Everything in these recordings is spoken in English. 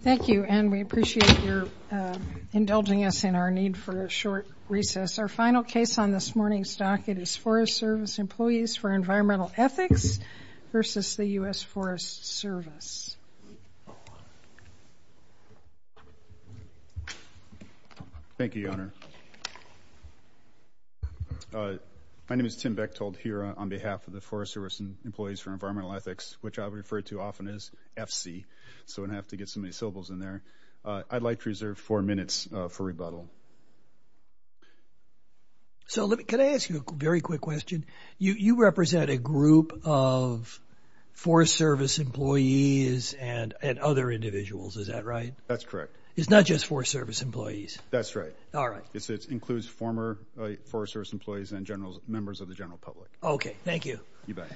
Thank you, and we appreciate your indulging us in our need for a short recess. Our final case on this morning's docket is Forest Service Employees for Environmental Ethics v. US Forest Service. Thank you, Your Honor. My name is Tim Bechtold here on behalf of the Forest Service Employees for Environmental Ethics, which I refer to often as FSEE, so I'm going to have to get some of these syllables in there. I'd like to reserve four minutes for rebuttal. Can I ask you a very quick question? You represent a group of Forest Service employees and other individuals, is that right? That's correct. It's not just Forest Service employees? That's right. All right. It includes former Forest Service employees and members of the general public. Okay, thank you. You bet.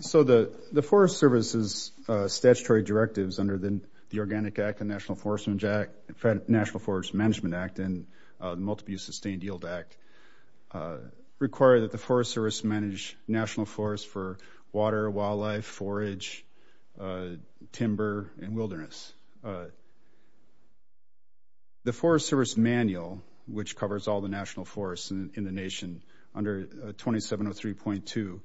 So the Forest Service's statutory directives under the Organic Act, the National Forest Management Act, and the Multiple-Use Sustained Yield Act require that the Forest Service manage national forests for water, wildlife, forage, timber, and wilderness. The Forest Service manual, which covers all the national forests in the nation under 2703.2,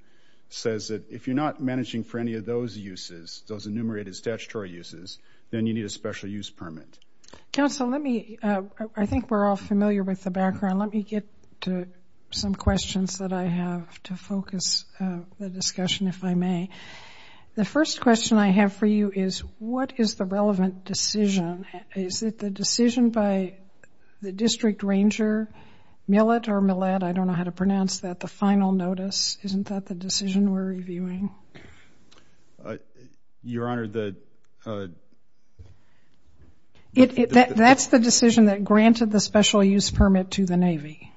says that if you're not managing for any of those uses, those enumerated statutory uses, then you need a special use permit. Counsel, I think we're all familiar with the background. Let me get to some questions that I have to focus the discussion, if I may. The first question I have for you is, what is the relevant decision? Is it the decision by the district ranger, Millett or Millett, I don't know how to pronounce that, the final notice? Isn't that the decision we're reviewing? Your Honor, the ‑‑ That's the decision that granted the special use permit to the Navy.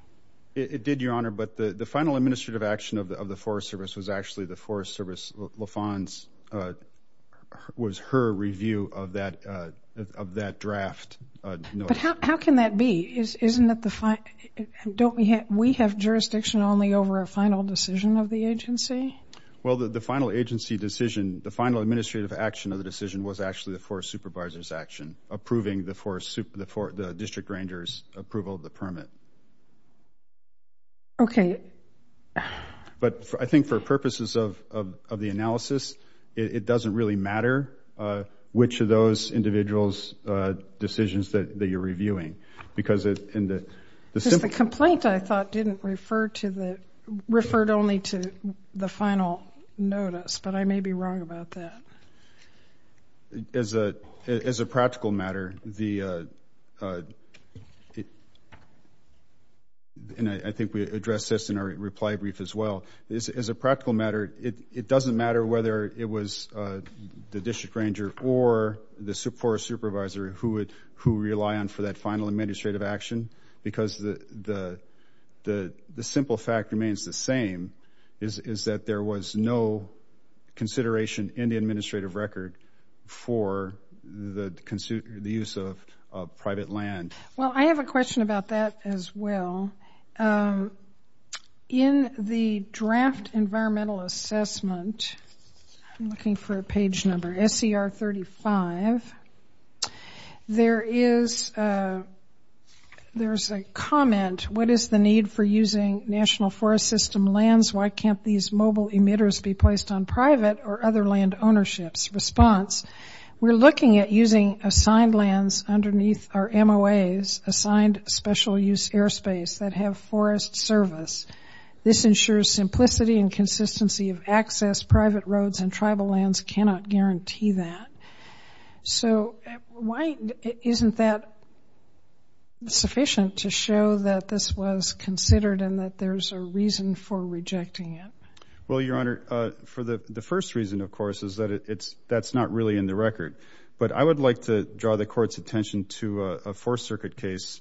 It did, Your Honor, but the final administrative action of the Forest Service was actually the Forest Service, LaFawn's, was her review of that draft notice. But how can that be? Isn't that the ‑‑ don't we have jurisdiction only over a final decision of the agency? Well, the final agency decision, the final administrative action of the decision, was actually the Forest Supervisor's action, approving the district ranger's approval of the permit. Okay. But I think for purposes of the analysis, it doesn't really matter which of those individuals' decisions that you're reviewing. Because in the ‑‑ Because the complaint, I thought, didn't refer to the ‑‑ referred only to the final notice, but I may be wrong about that. As a practical matter, the ‑‑ and I think we addressed this in our reply brief as well. As a practical matter, it doesn't matter whether it was the district ranger or the Forest Supervisor who would ‑‑ who rely on for that final administrative action, because the simple fact remains the same, is that there was no consideration in the administrative record for the use of private land. Well, I have a question about that as well. In the draft environmental assessment, I'm looking for a page number, SCR 35, there is a comment, what is the need for using national forest system lands, why can't these mobile emitters be placed on private or other land ownerships? Response, we're looking at using assigned lands underneath our MOAs, assigned special use airspace that have forest service. This ensures simplicity and consistency of access, private roads and tribal lands cannot guarantee that. So, why isn't that sufficient to show that this was considered and that there's a reason for rejecting it? Well, Your Honor, for the first reason, of course, is that it's ‑‑ that's not really in the record. But I would like to draw the Court's attention to a Fourth Circuit case.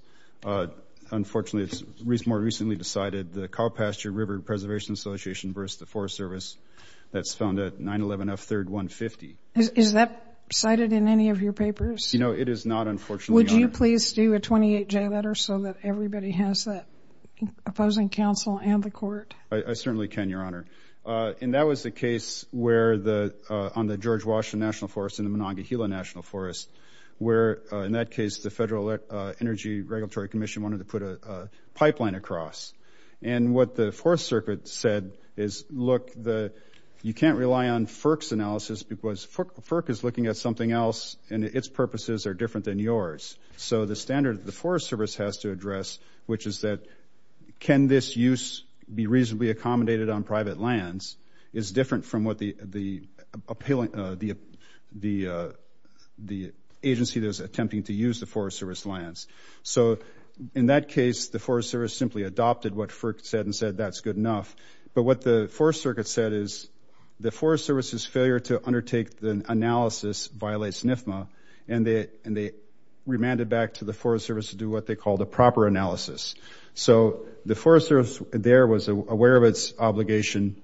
Unfortunately, it's more recently decided, the Cow Pasture River Preservation Association versus the Forest Service, that's found at 911 F3rd 150. Is that cited in any of your papers? No, it is not, unfortunately, Your Honor. Would you please do a 28J letter so that everybody has that opposing counsel and the Court? I certainly can, Your Honor. And that was the case where the ‑‑ on the George Washington National Forest and the Monongahela National Forest, where, in that case, the Federal Energy Regulatory Commission wanted to put a pipeline across. And what the Fourth Circuit said is, look, you can't rely on FERC's analysis because FERC is looking at something else and its purposes are different than yours. So the standard the Forest Service has to address, which is that can this use be reasonably accommodated on private lands, is different from what the agency that is attempting to use the Forest Service lands. So, in that case, the Forest Service simply adopted what FERC said and said that's good enough. But what the Forest Circuit said is, the Forest Service's failure to undertake the analysis violates NFMA, and they remanded back to the Forest Service to do what they called a proper analysis. So the Forest Service there was aware of its obligation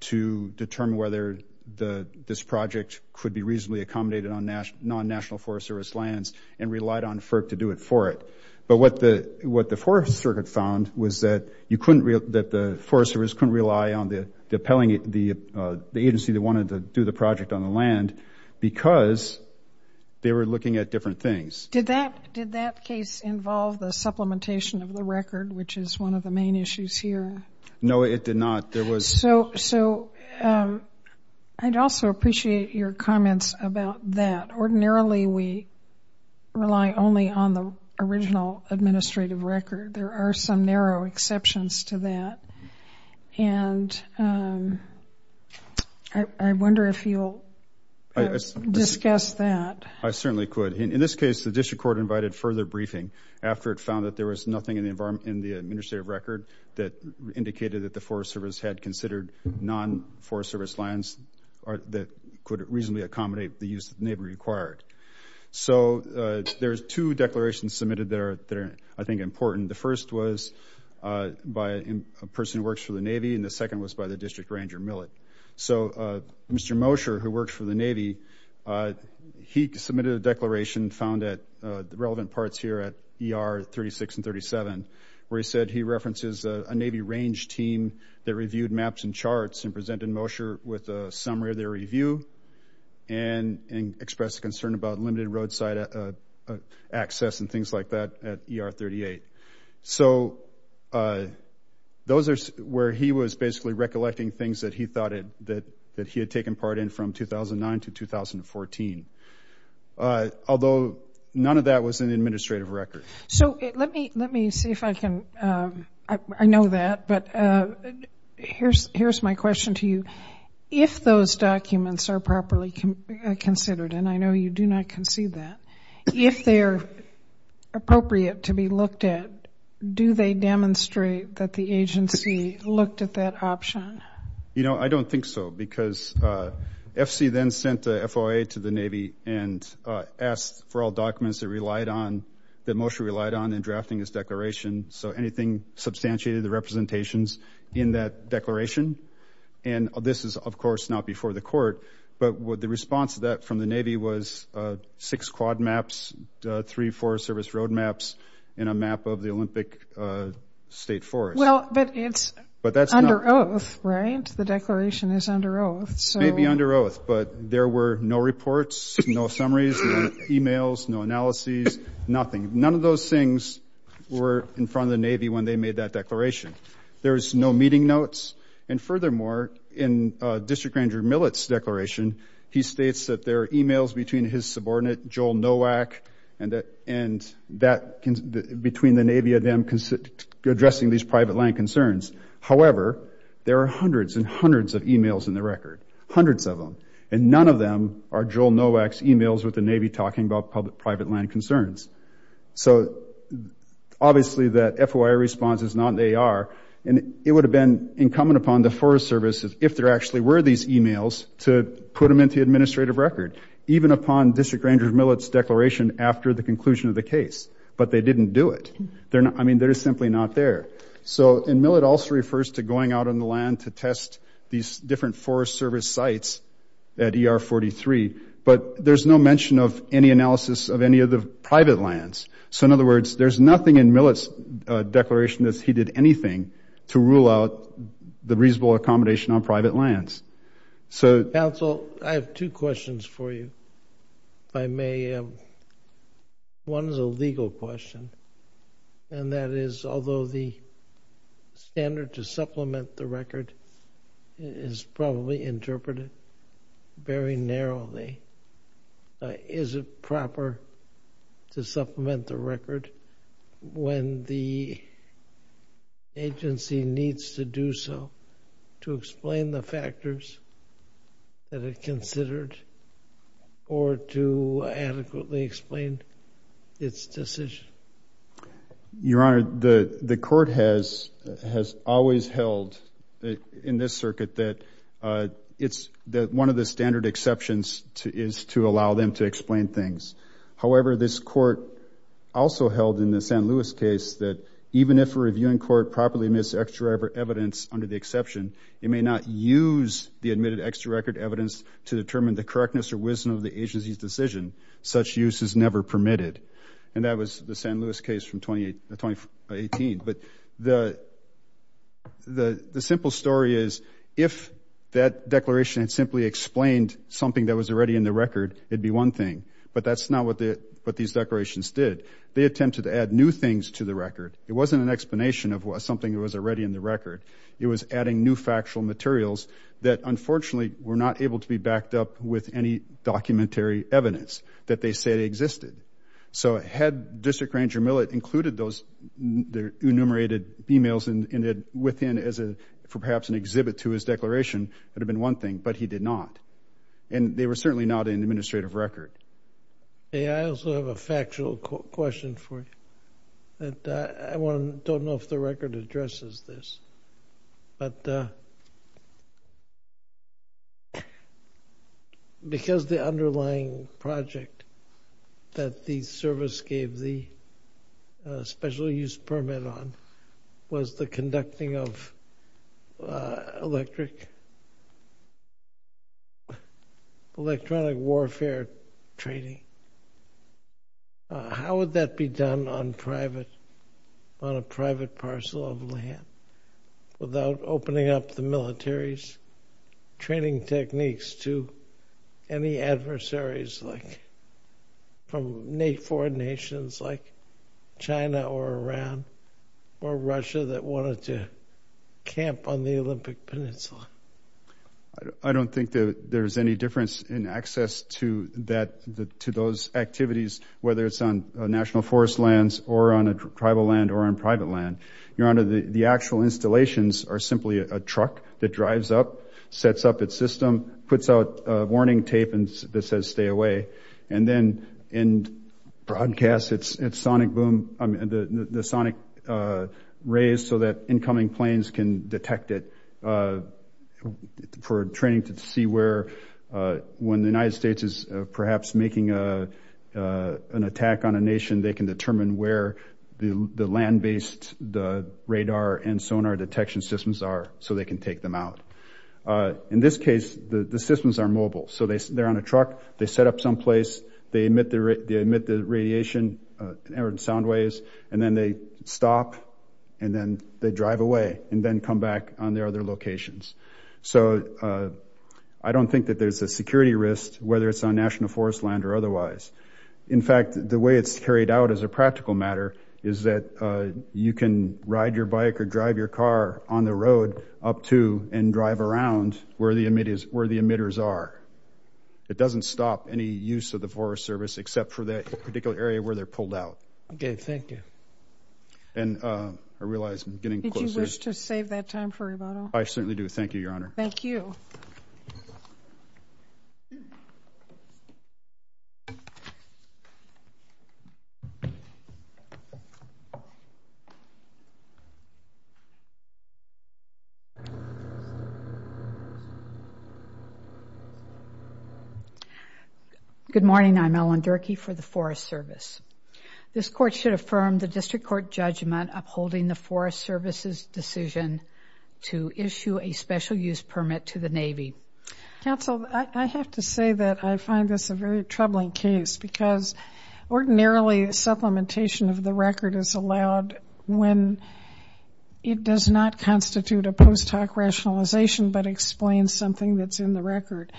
to determine whether this project could be reasonably accommodated on non‑national Forest Service lands and relied on FERC to do it for it. But what the Forest Circuit found was that the Forest Service couldn't rely on the agency that wanted to do the project on the land because they were looking at different things. Did that case involve the supplementation of the record, which is one of the main issues here? No, it did not. So I'd also appreciate your comments about that. They rely only on the original administrative record. There are some narrow exceptions to that. And I wonder if you'll discuss that. I certainly could. In this case, the district court invited further briefing after it found that there was nothing in the administrative record that indicated that the Forest Service had considered non‑Forest Service lands that could reasonably accommodate the use that the Navy required. So there's two declarations submitted there that are, I think, important. The first was by a person who works for the Navy, and the second was by the district ranger, Millick. So Mr. Mosher, who works for the Navy, he submitted a declaration, found at the relevant parts here at ER 36 and 37, where he said he references a Navy range team that reviewed maps and charts and presented Mosher with a summary of their review and expressed concern about limited roadside access and things like that at ER 38. So those are where he was basically recollecting things that he thought that he had taken part in from 2009 to 2014, although none of that was in the administrative record. So let me see if I can ‑‑ I know that, but here's my question to you. If those documents are properly considered, and I know you do not concede that, if they are appropriate to be looked at, do they demonstrate that the agency looked at that option? You know, I don't think so, because FC then sent the FOA to the Navy and asked for all documents that Mosher relied on in drafting his declaration, so anything substantiated the representations in that declaration. And this is, of course, not before the court, but the response to that from the Navy was six quad maps, three Forest Service road maps, and a map of the Olympic State Forest. Well, but it's under oath, right? The declaration is under oath. It may be under oath, but there were no reports, no summaries, no e-mails, no analyses, nothing. None of those things were in front of the Navy when they made that declaration. There's no meeting notes. And furthermore, in District Grand Jury Millett's declaration, he states that there are e-mails between his subordinate, Joel Nowak, and that between the Navy and them addressing these private land concerns. However, there are hundreds and hundreds of e-mails in the record, hundreds of them, and none of them are Joel Nowak's e-mails with the Navy talking about private land concerns. So obviously that FOIA response is not in the AR, and it would have been incumbent upon the Forest Service, if there actually were these e-mails, to put them into the administrative record, even upon District Grand Jury Millett's declaration after the conclusion of the case. But they didn't do it. I mean, they're simply not there. And Millett also refers to going out on the land to test these different Forest Service sites at ER-43. But there's no mention of any analysis of any of the private lands. So in other words, there's nothing in Millett's declaration that he did anything to rule out the reasonable accommodation on private lands. Council, I have two questions for you, if I may. One is a legal question, and that is, although the standard to supplement the record is probably interpreted very narrowly, is it proper to supplement the record when the agency needs to do so to explain the factors that it considered or to adequately explain its decision? Your Honor, the court has always held, in this circuit, that one of the standard exceptions is to allow them to explain things. However, this court also held, in the San Luis case, that even if a reviewing court properly admits extra evidence under the exception, it may not use the admitted extra record evidence to determine the correctness or wisdom of the agency's decision. Such use is never permitted. And that was the San Luis case from 2018. But the simple story is, if that declaration had simply explained something that was already in the record, it would be one thing. But that's not what these declarations did. They attempted to add new things to the record. It wasn't an explanation of something that was already in the record. It was adding new factual materials that, unfortunately, were not able to be backed up with any documentary evidence that they say existed. So had District Ranger Millett included those enumerated emails within, as perhaps an exhibit to his declaration, it would have been one thing. But he did not. And they were certainly not in the administrative record. I also have a factual question for you. I don't know if the record addresses this. Because the underlying project that the service gave the special use permit on was the conducting of electronic warfare training. How would that be done on a private parcel of land without opening up the military's training techniques to any adversaries from foreign nations like China or Iran or Russia that wanted to camp on the Olympic Peninsula? I don't think that there's any difference in access to those activities, whether it's on national forest lands or on a tribal land or on private land. Your Honor, the actual installations are simply a truck that drives up, sets up its system, puts out warning tape that says stay away, and then broadcasts the sonic rays so that incoming planes can detect it for training to see where, when the United States is perhaps making an attack on a nation, they can determine where the land-based radar and sonar detection systems are so they can take them out. In this case, the systems are mobile. So they're on a truck. They set up someplace. They emit the radiation or sound waves, and then they stop, and then they drive away and then come back on their other locations. So I don't think that there's a security risk, whether it's on national forest land or otherwise. In fact, the way it's carried out as a practical matter is that you can ride your bike or drive your car on the road up to and drive around where the emitters are. It doesn't stop any use of the Forest Service except for that particular area where they're pulled out. Okay. Thank you. And I realize I'm getting closer. Did you wish to save that time for rebuttal? I certainly do. Thank you, Your Honor. Thank you. Thank you. Good morning. I'm Ellen Durkee for the Forest Service. This Court should affirm the District Court judgment upholding the Forest Service's decision to issue a special use permit to the Navy. Counsel, I have to say that I find this a very troubling case because ordinarily supplementation of the record is allowed when it does not constitute a post hoc rationalization but explains something that's in the record.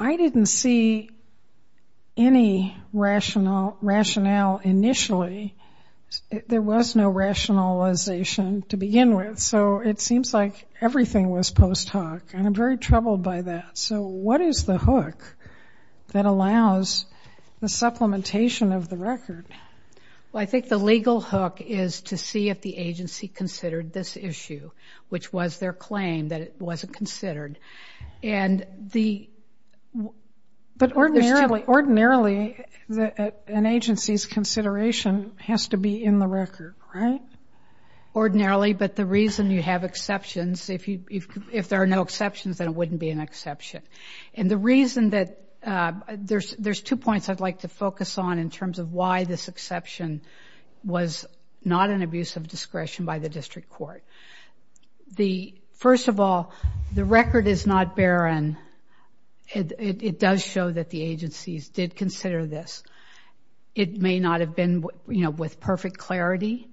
I didn't see any rationale initially. There was no rationalization to begin with. So it seems like everything was post hoc, and I'm very troubled by that. So what is the hook that allows the supplementation of the record? Well, I think the legal hook is to see if the agency considered this issue, which was their claim that it wasn't considered. But ordinarily an agency's consideration has to be in the record, right? Ordinarily, but the reason you have exceptions, if there are no exceptions, then it wouldn't be an exception. And the reason that there's two points I'd like to focus on in terms of why this exception was not an abuse of discretion by the District Court. First of all, the record is not barren. It does show that the agencies did consider this. It may not have been with perfect clarity,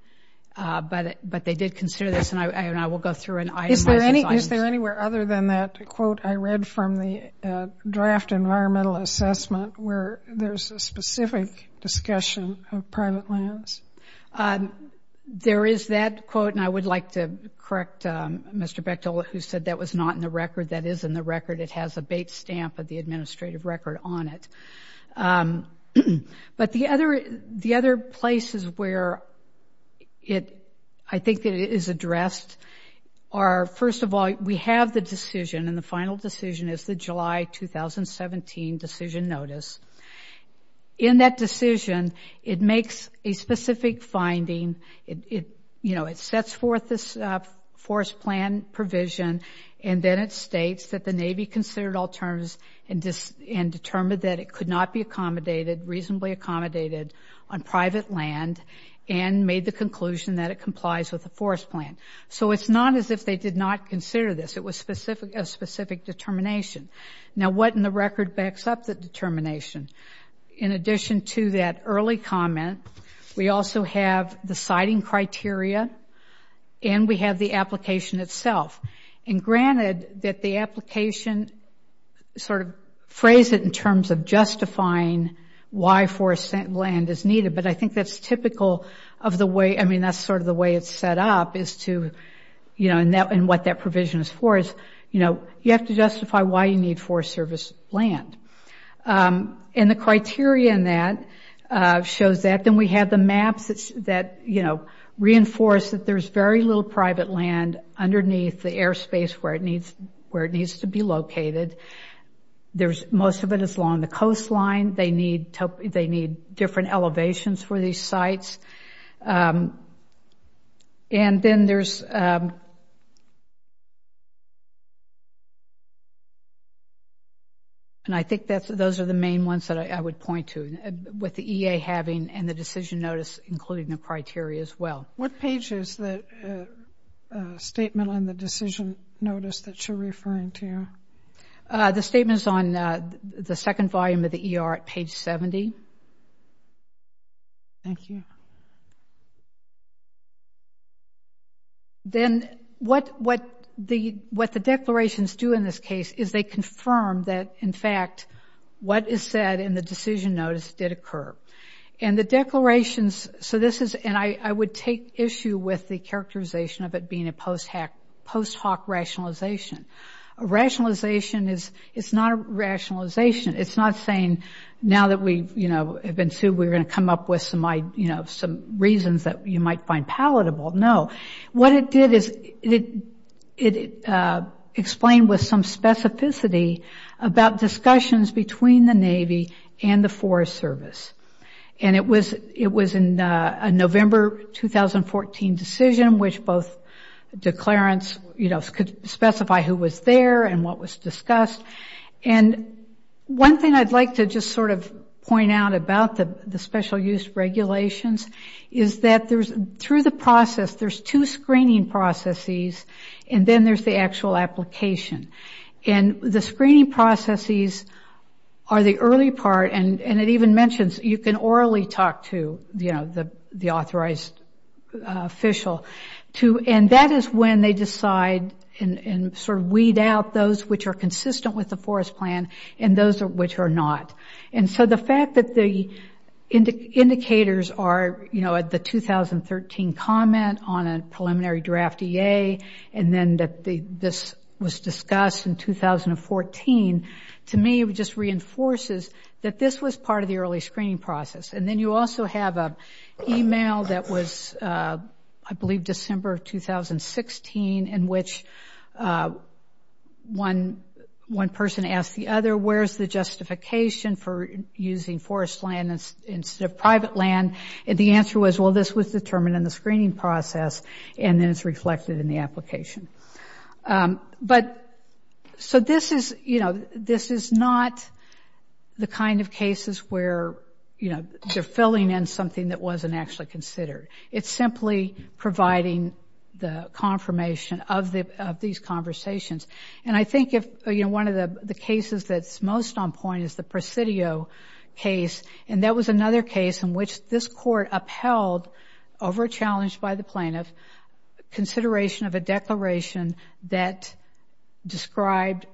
but they did consider this, and I will go through and itemize it. Is there anywhere other than that quote I read from the draft environmental assessment where there's a specific discussion of private lands? There is that quote, and I would like to correct Mr. Bechtol who said that was not in the record. That is in the record. It has a bait stamp of the administrative record on it. But the other places where I think it is addressed are, first of all, we have the decision, and the final decision is the July 2017 decision notice. In that decision, it makes a specific finding. You know, it sets forth this forest plan provision, and then it states that the Navy considered all terms and determined that it could not be accommodated, reasonably accommodated, on private land and made the conclusion that it complies with the forest plan. So it's not as if they did not consider this. It was a specific determination. Now, what in the record backs up the determination? In addition to that early comment, we also have the siting criteria, and we have the application itself. And granted that the application sort of phrased it in terms of justifying why forest land is needed, but I think that's typical of the way, I mean, that's sort of the way it's set up is to, you know, and what that provision is for is, you know, you have to justify why you need forest service land. And the criteria in that shows that. Then we have the maps that, you know, reinforce that there's very little private land underneath the airspace where it needs to be located. Most of it is along the coastline. They need different elevations for these sites. And then there's, and I think those are the main ones that I would point to, with the EA having and the decision notice including the criteria as well. What page is the statement on the decision notice that you're referring to? The statement is on the second volume of the ER at page 70. Thank you. Then what the declarations do in this case is they confirm that, in fact, what is said in the decision notice did occur. And the declarations, so this is, and I would take issue with the characterization of it being a post hoc rationalization. A rationalization is not a rationalization. It's not saying now that we, you know, have been sued, we're going to come up with some reasons that you might find palatable. No. What it did is it explained with some specificity about discussions between the Navy and the Forest Service. And it was in a November 2014 decision which both declarants, you know, could specify who was there and what was discussed. And one thing I'd like to just sort of point out about the special use regulations is that through the process there's two screening processes and then there's the actual application. And the screening processes are the early part, and it even mentions you can orally talk to, you know, the authorized official. And that is when they decide and sort of weed out those which are consistent with the forest plan and those which are not. And so the fact that the indicators are, you know, the 2013 comment on a preliminary draft EA and then that this was discussed in 2014, to me it just reinforces that this was part of the early screening process. And then you also have an email that was, I believe, December 2016, in which one person asked the other, where's the justification for using forest land instead of private land? And the answer was, well, this was determined in the screening process and then it's reflected in the application. But so this is, you know, this is not the kind of cases where, you know, they're filling in something that wasn't actually considered. It's simply providing the confirmation of these conversations. And I think, you know, one of the cases that's most on point is the Presidio case, and that was another case in which this court upheld, over a challenge by the plaintiff, consideration of a declaration that described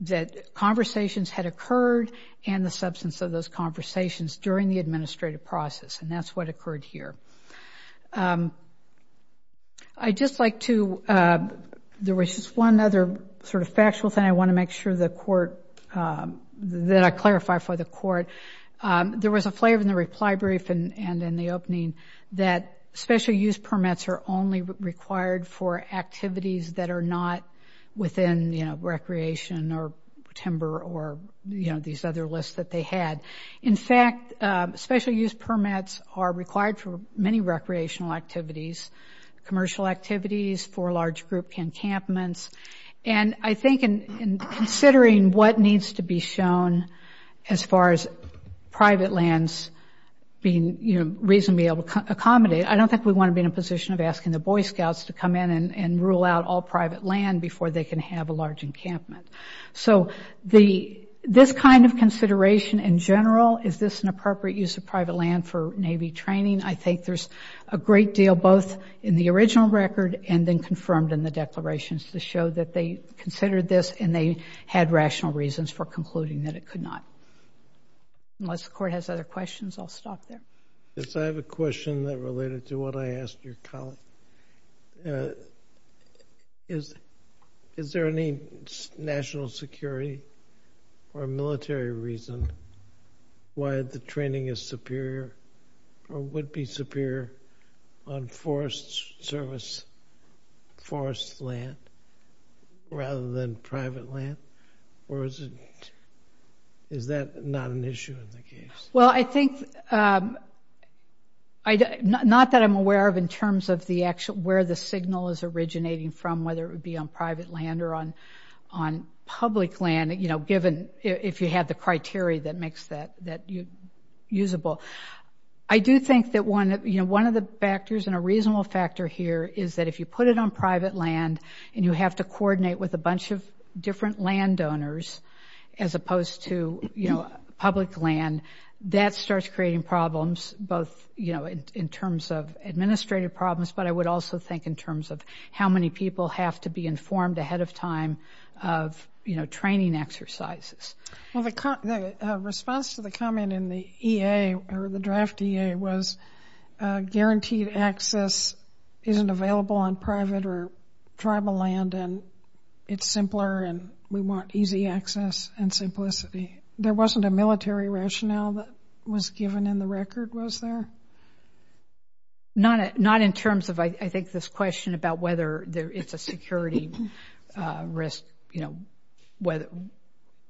that conversations had occurred and the substance of those conversations during the administrative process, and that's what occurred here. I'd just like to, there was just one other sort of factual thing I want to make sure the court, that I clarify for the court. There was a flavor in the reply brief and in the opening that special use permits are only required for activities that are not within, you know, recreation or timber or, you know, these other lists that they had. In fact, special use permits are required for many recreational activities, commercial activities, for large group encampments. And I think in considering what needs to be shown as far as private lands being, you know, reasonably able to accommodate, I don't think we want to be in a position of asking the Boy Scouts to come in and rule out all private land before they can have a large encampment. So this kind of consideration in general, is this an appropriate use of private land for Navy training? I think there's a great deal both in the original record and then confirmed in the declarations to show that they considered this and they had rational reasons for concluding that it could not. Unless the court has other questions, I'll stop there. Yes, I have a question that related to what I asked your colleague. Is there any national security or military reason why the training is superior or would be superior on forest service, forest land rather than private land? Or is that not an issue in the case? Well, I think, not that I'm aware of in terms of the actual, where the signal is originating from, whether it would be on private land or on public land, you know, given if you had the criteria that makes that usable. I do think that one of the factors and a reasonable factor here is that if you put it on private land and you have to coordinate with a bunch of different landowners as opposed to, you know, public land, that starts creating problems both, you know, in terms of administrative problems, but I would also think in terms of how many people have to be informed ahead of time of, you know, training exercises. Well, the response to the comment in the EA, or the draft EA, was guaranteed access isn't available on private or tribal land and it's simpler and we want easy access and simplicity. There wasn't a military rationale that was given in the record, was there? Not in terms of, I think, this question about whether it's a security risk, you know,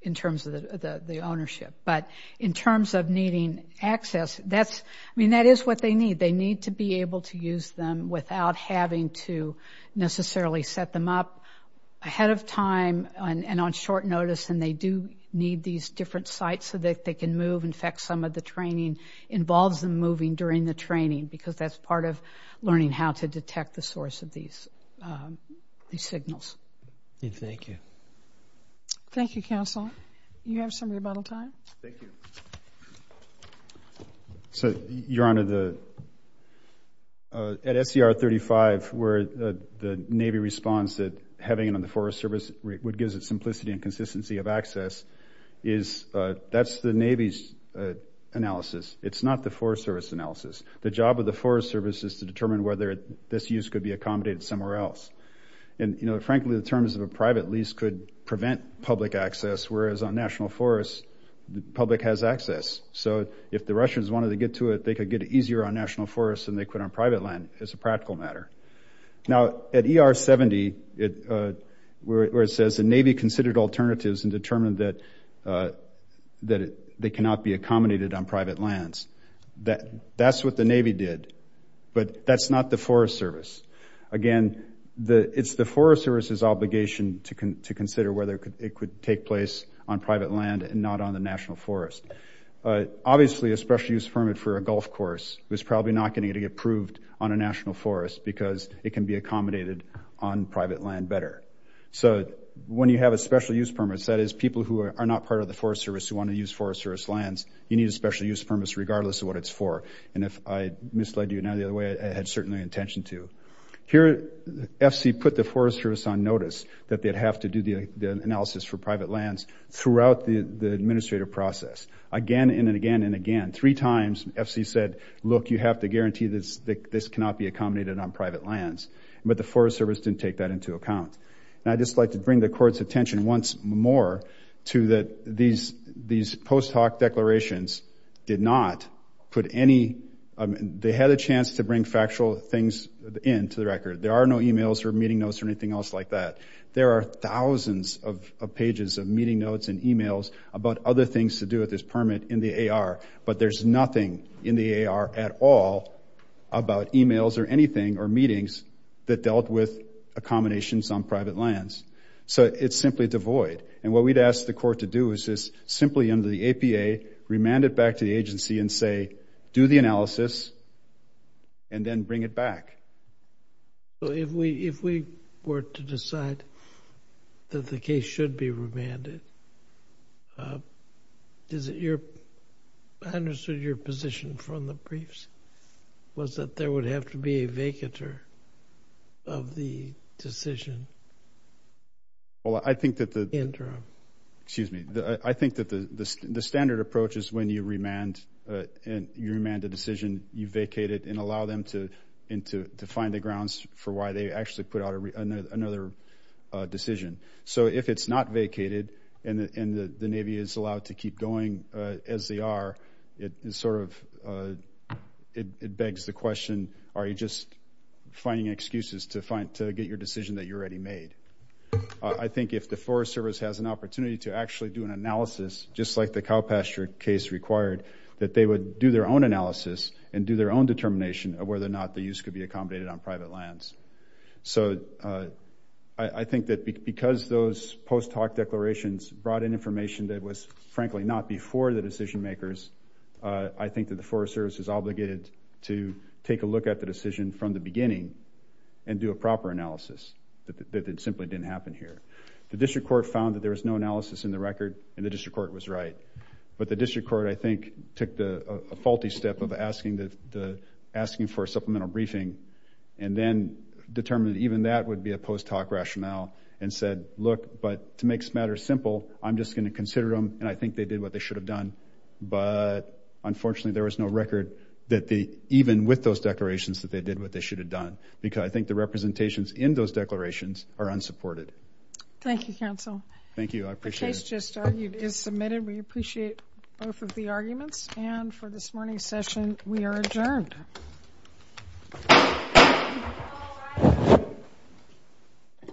in terms of the ownership, but in terms of needing access, I mean, that is what they need. They need to be able to use them without having to necessarily set them up ahead of time and on short notice, and they do need these different sites so that they can move. In fact, some of the training involves them moving during the training because that's part of learning how to detect the source of these signals. Thank you. Thank you, counsel. Do you have some rebuttal time? Thank you. So, Your Honor, at SCR 35, where the Navy responds that having it on the Forest Service gives it simplicity and consistency of access, that's the Navy's analysis. It's not the Forest Service's analysis. The job of the Forest Service is to determine whether this use could be accommodated somewhere else. And, you know, frankly, the terms of a private lease could prevent public access, whereas on national forests, the public has access. So if the Russians wanted to get to it, they could get it easier on national forests than they could on private land. It's a practical matter. Now, at ER 70, where it says the Navy considered alternatives and determined that they cannot be accommodated on private lands, that's what the Navy did, but that's not the Forest Service. Again, it's the Forest Service's obligation to consider whether it could take place on private land and not on the national forest. Obviously, a special-use permit for a golf course was probably not going to get approved on a national forest because it can be accommodated on private land better. So when you have a special-use permit, that is people who are not part of the Forest Service who want to use Forest Service lands, you need a special-use permit regardless of what it's for. And if I misled you in any other way, I had certainly intention to. Here, FC put the Forest Service on notice that they'd have to do the analysis for private lands throughout the administrative process, again and again and again. Three times, FC said, look, you have to guarantee that this cannot be accommodated on private lands. But the Forest Service didn't take that into account. And I'd just like to bring the Court's attention once more to that these post-hoc declarations did not put any... They had a chance to bring factual things into the record. There are no e-mails or meeting notes or anything else like that. There are thousands of pages of meeting notes and e-mails about other things to do with this permit in the AR, but there's nothing in the AR at all about e-mails or anything or meetings that dealt with accommodations on private lands. So it's simply devoid. And what we'd ask the Court to do is just simply, under the APA, remand it back to the agency and say, do the analysis and then bring it back. So if we were to decide that the case should be remanded, is it your... I understood your position from the briefs was that there would have to be a vacatur of the decision. Well, I think that the... Interim. Excuse me. I think that the standard approach is when you remand a decision, you vacate it and allow them to find the grounds for why they actually put out another decision. So if it's not vacated and the Navy is allowed to keep going as they are, it sort of begs the question, are you just finding excuses to get your decision that you already made? I think if the Forest Service has an opportunity to actually do an analysis, just like the cow pasture case required, that they would do their own analysis and do their own determination of whether or not the use could be accommodated on private lands. So I think that because those post hoc declarations brought in information that was, frankly, not before the decision makers, I think that the Forest Service is obligated to take a look at the decision from the beginning and do a proper analysis. That it simply didn't happen here. The district court found that there was no analysis in the record, and the district court was right. But the district court, I think, took a faulty step of asking for a supplemental briefing and then determined that even that would be a post hoc rationale and said, look, but to make this matter simple, I'm just going to consider them, and I think they did what they should have done. But, unfortunately, there was no record that they, even with those declarations, that they did what they should have done. Because I think the representations in those declarations are unsupported. Thank you, counsel. Thank you. I appreciate it. The case just argued is submitted. We appreciate both of the arguments. And for this morning's session, we are adjourned. Thank you.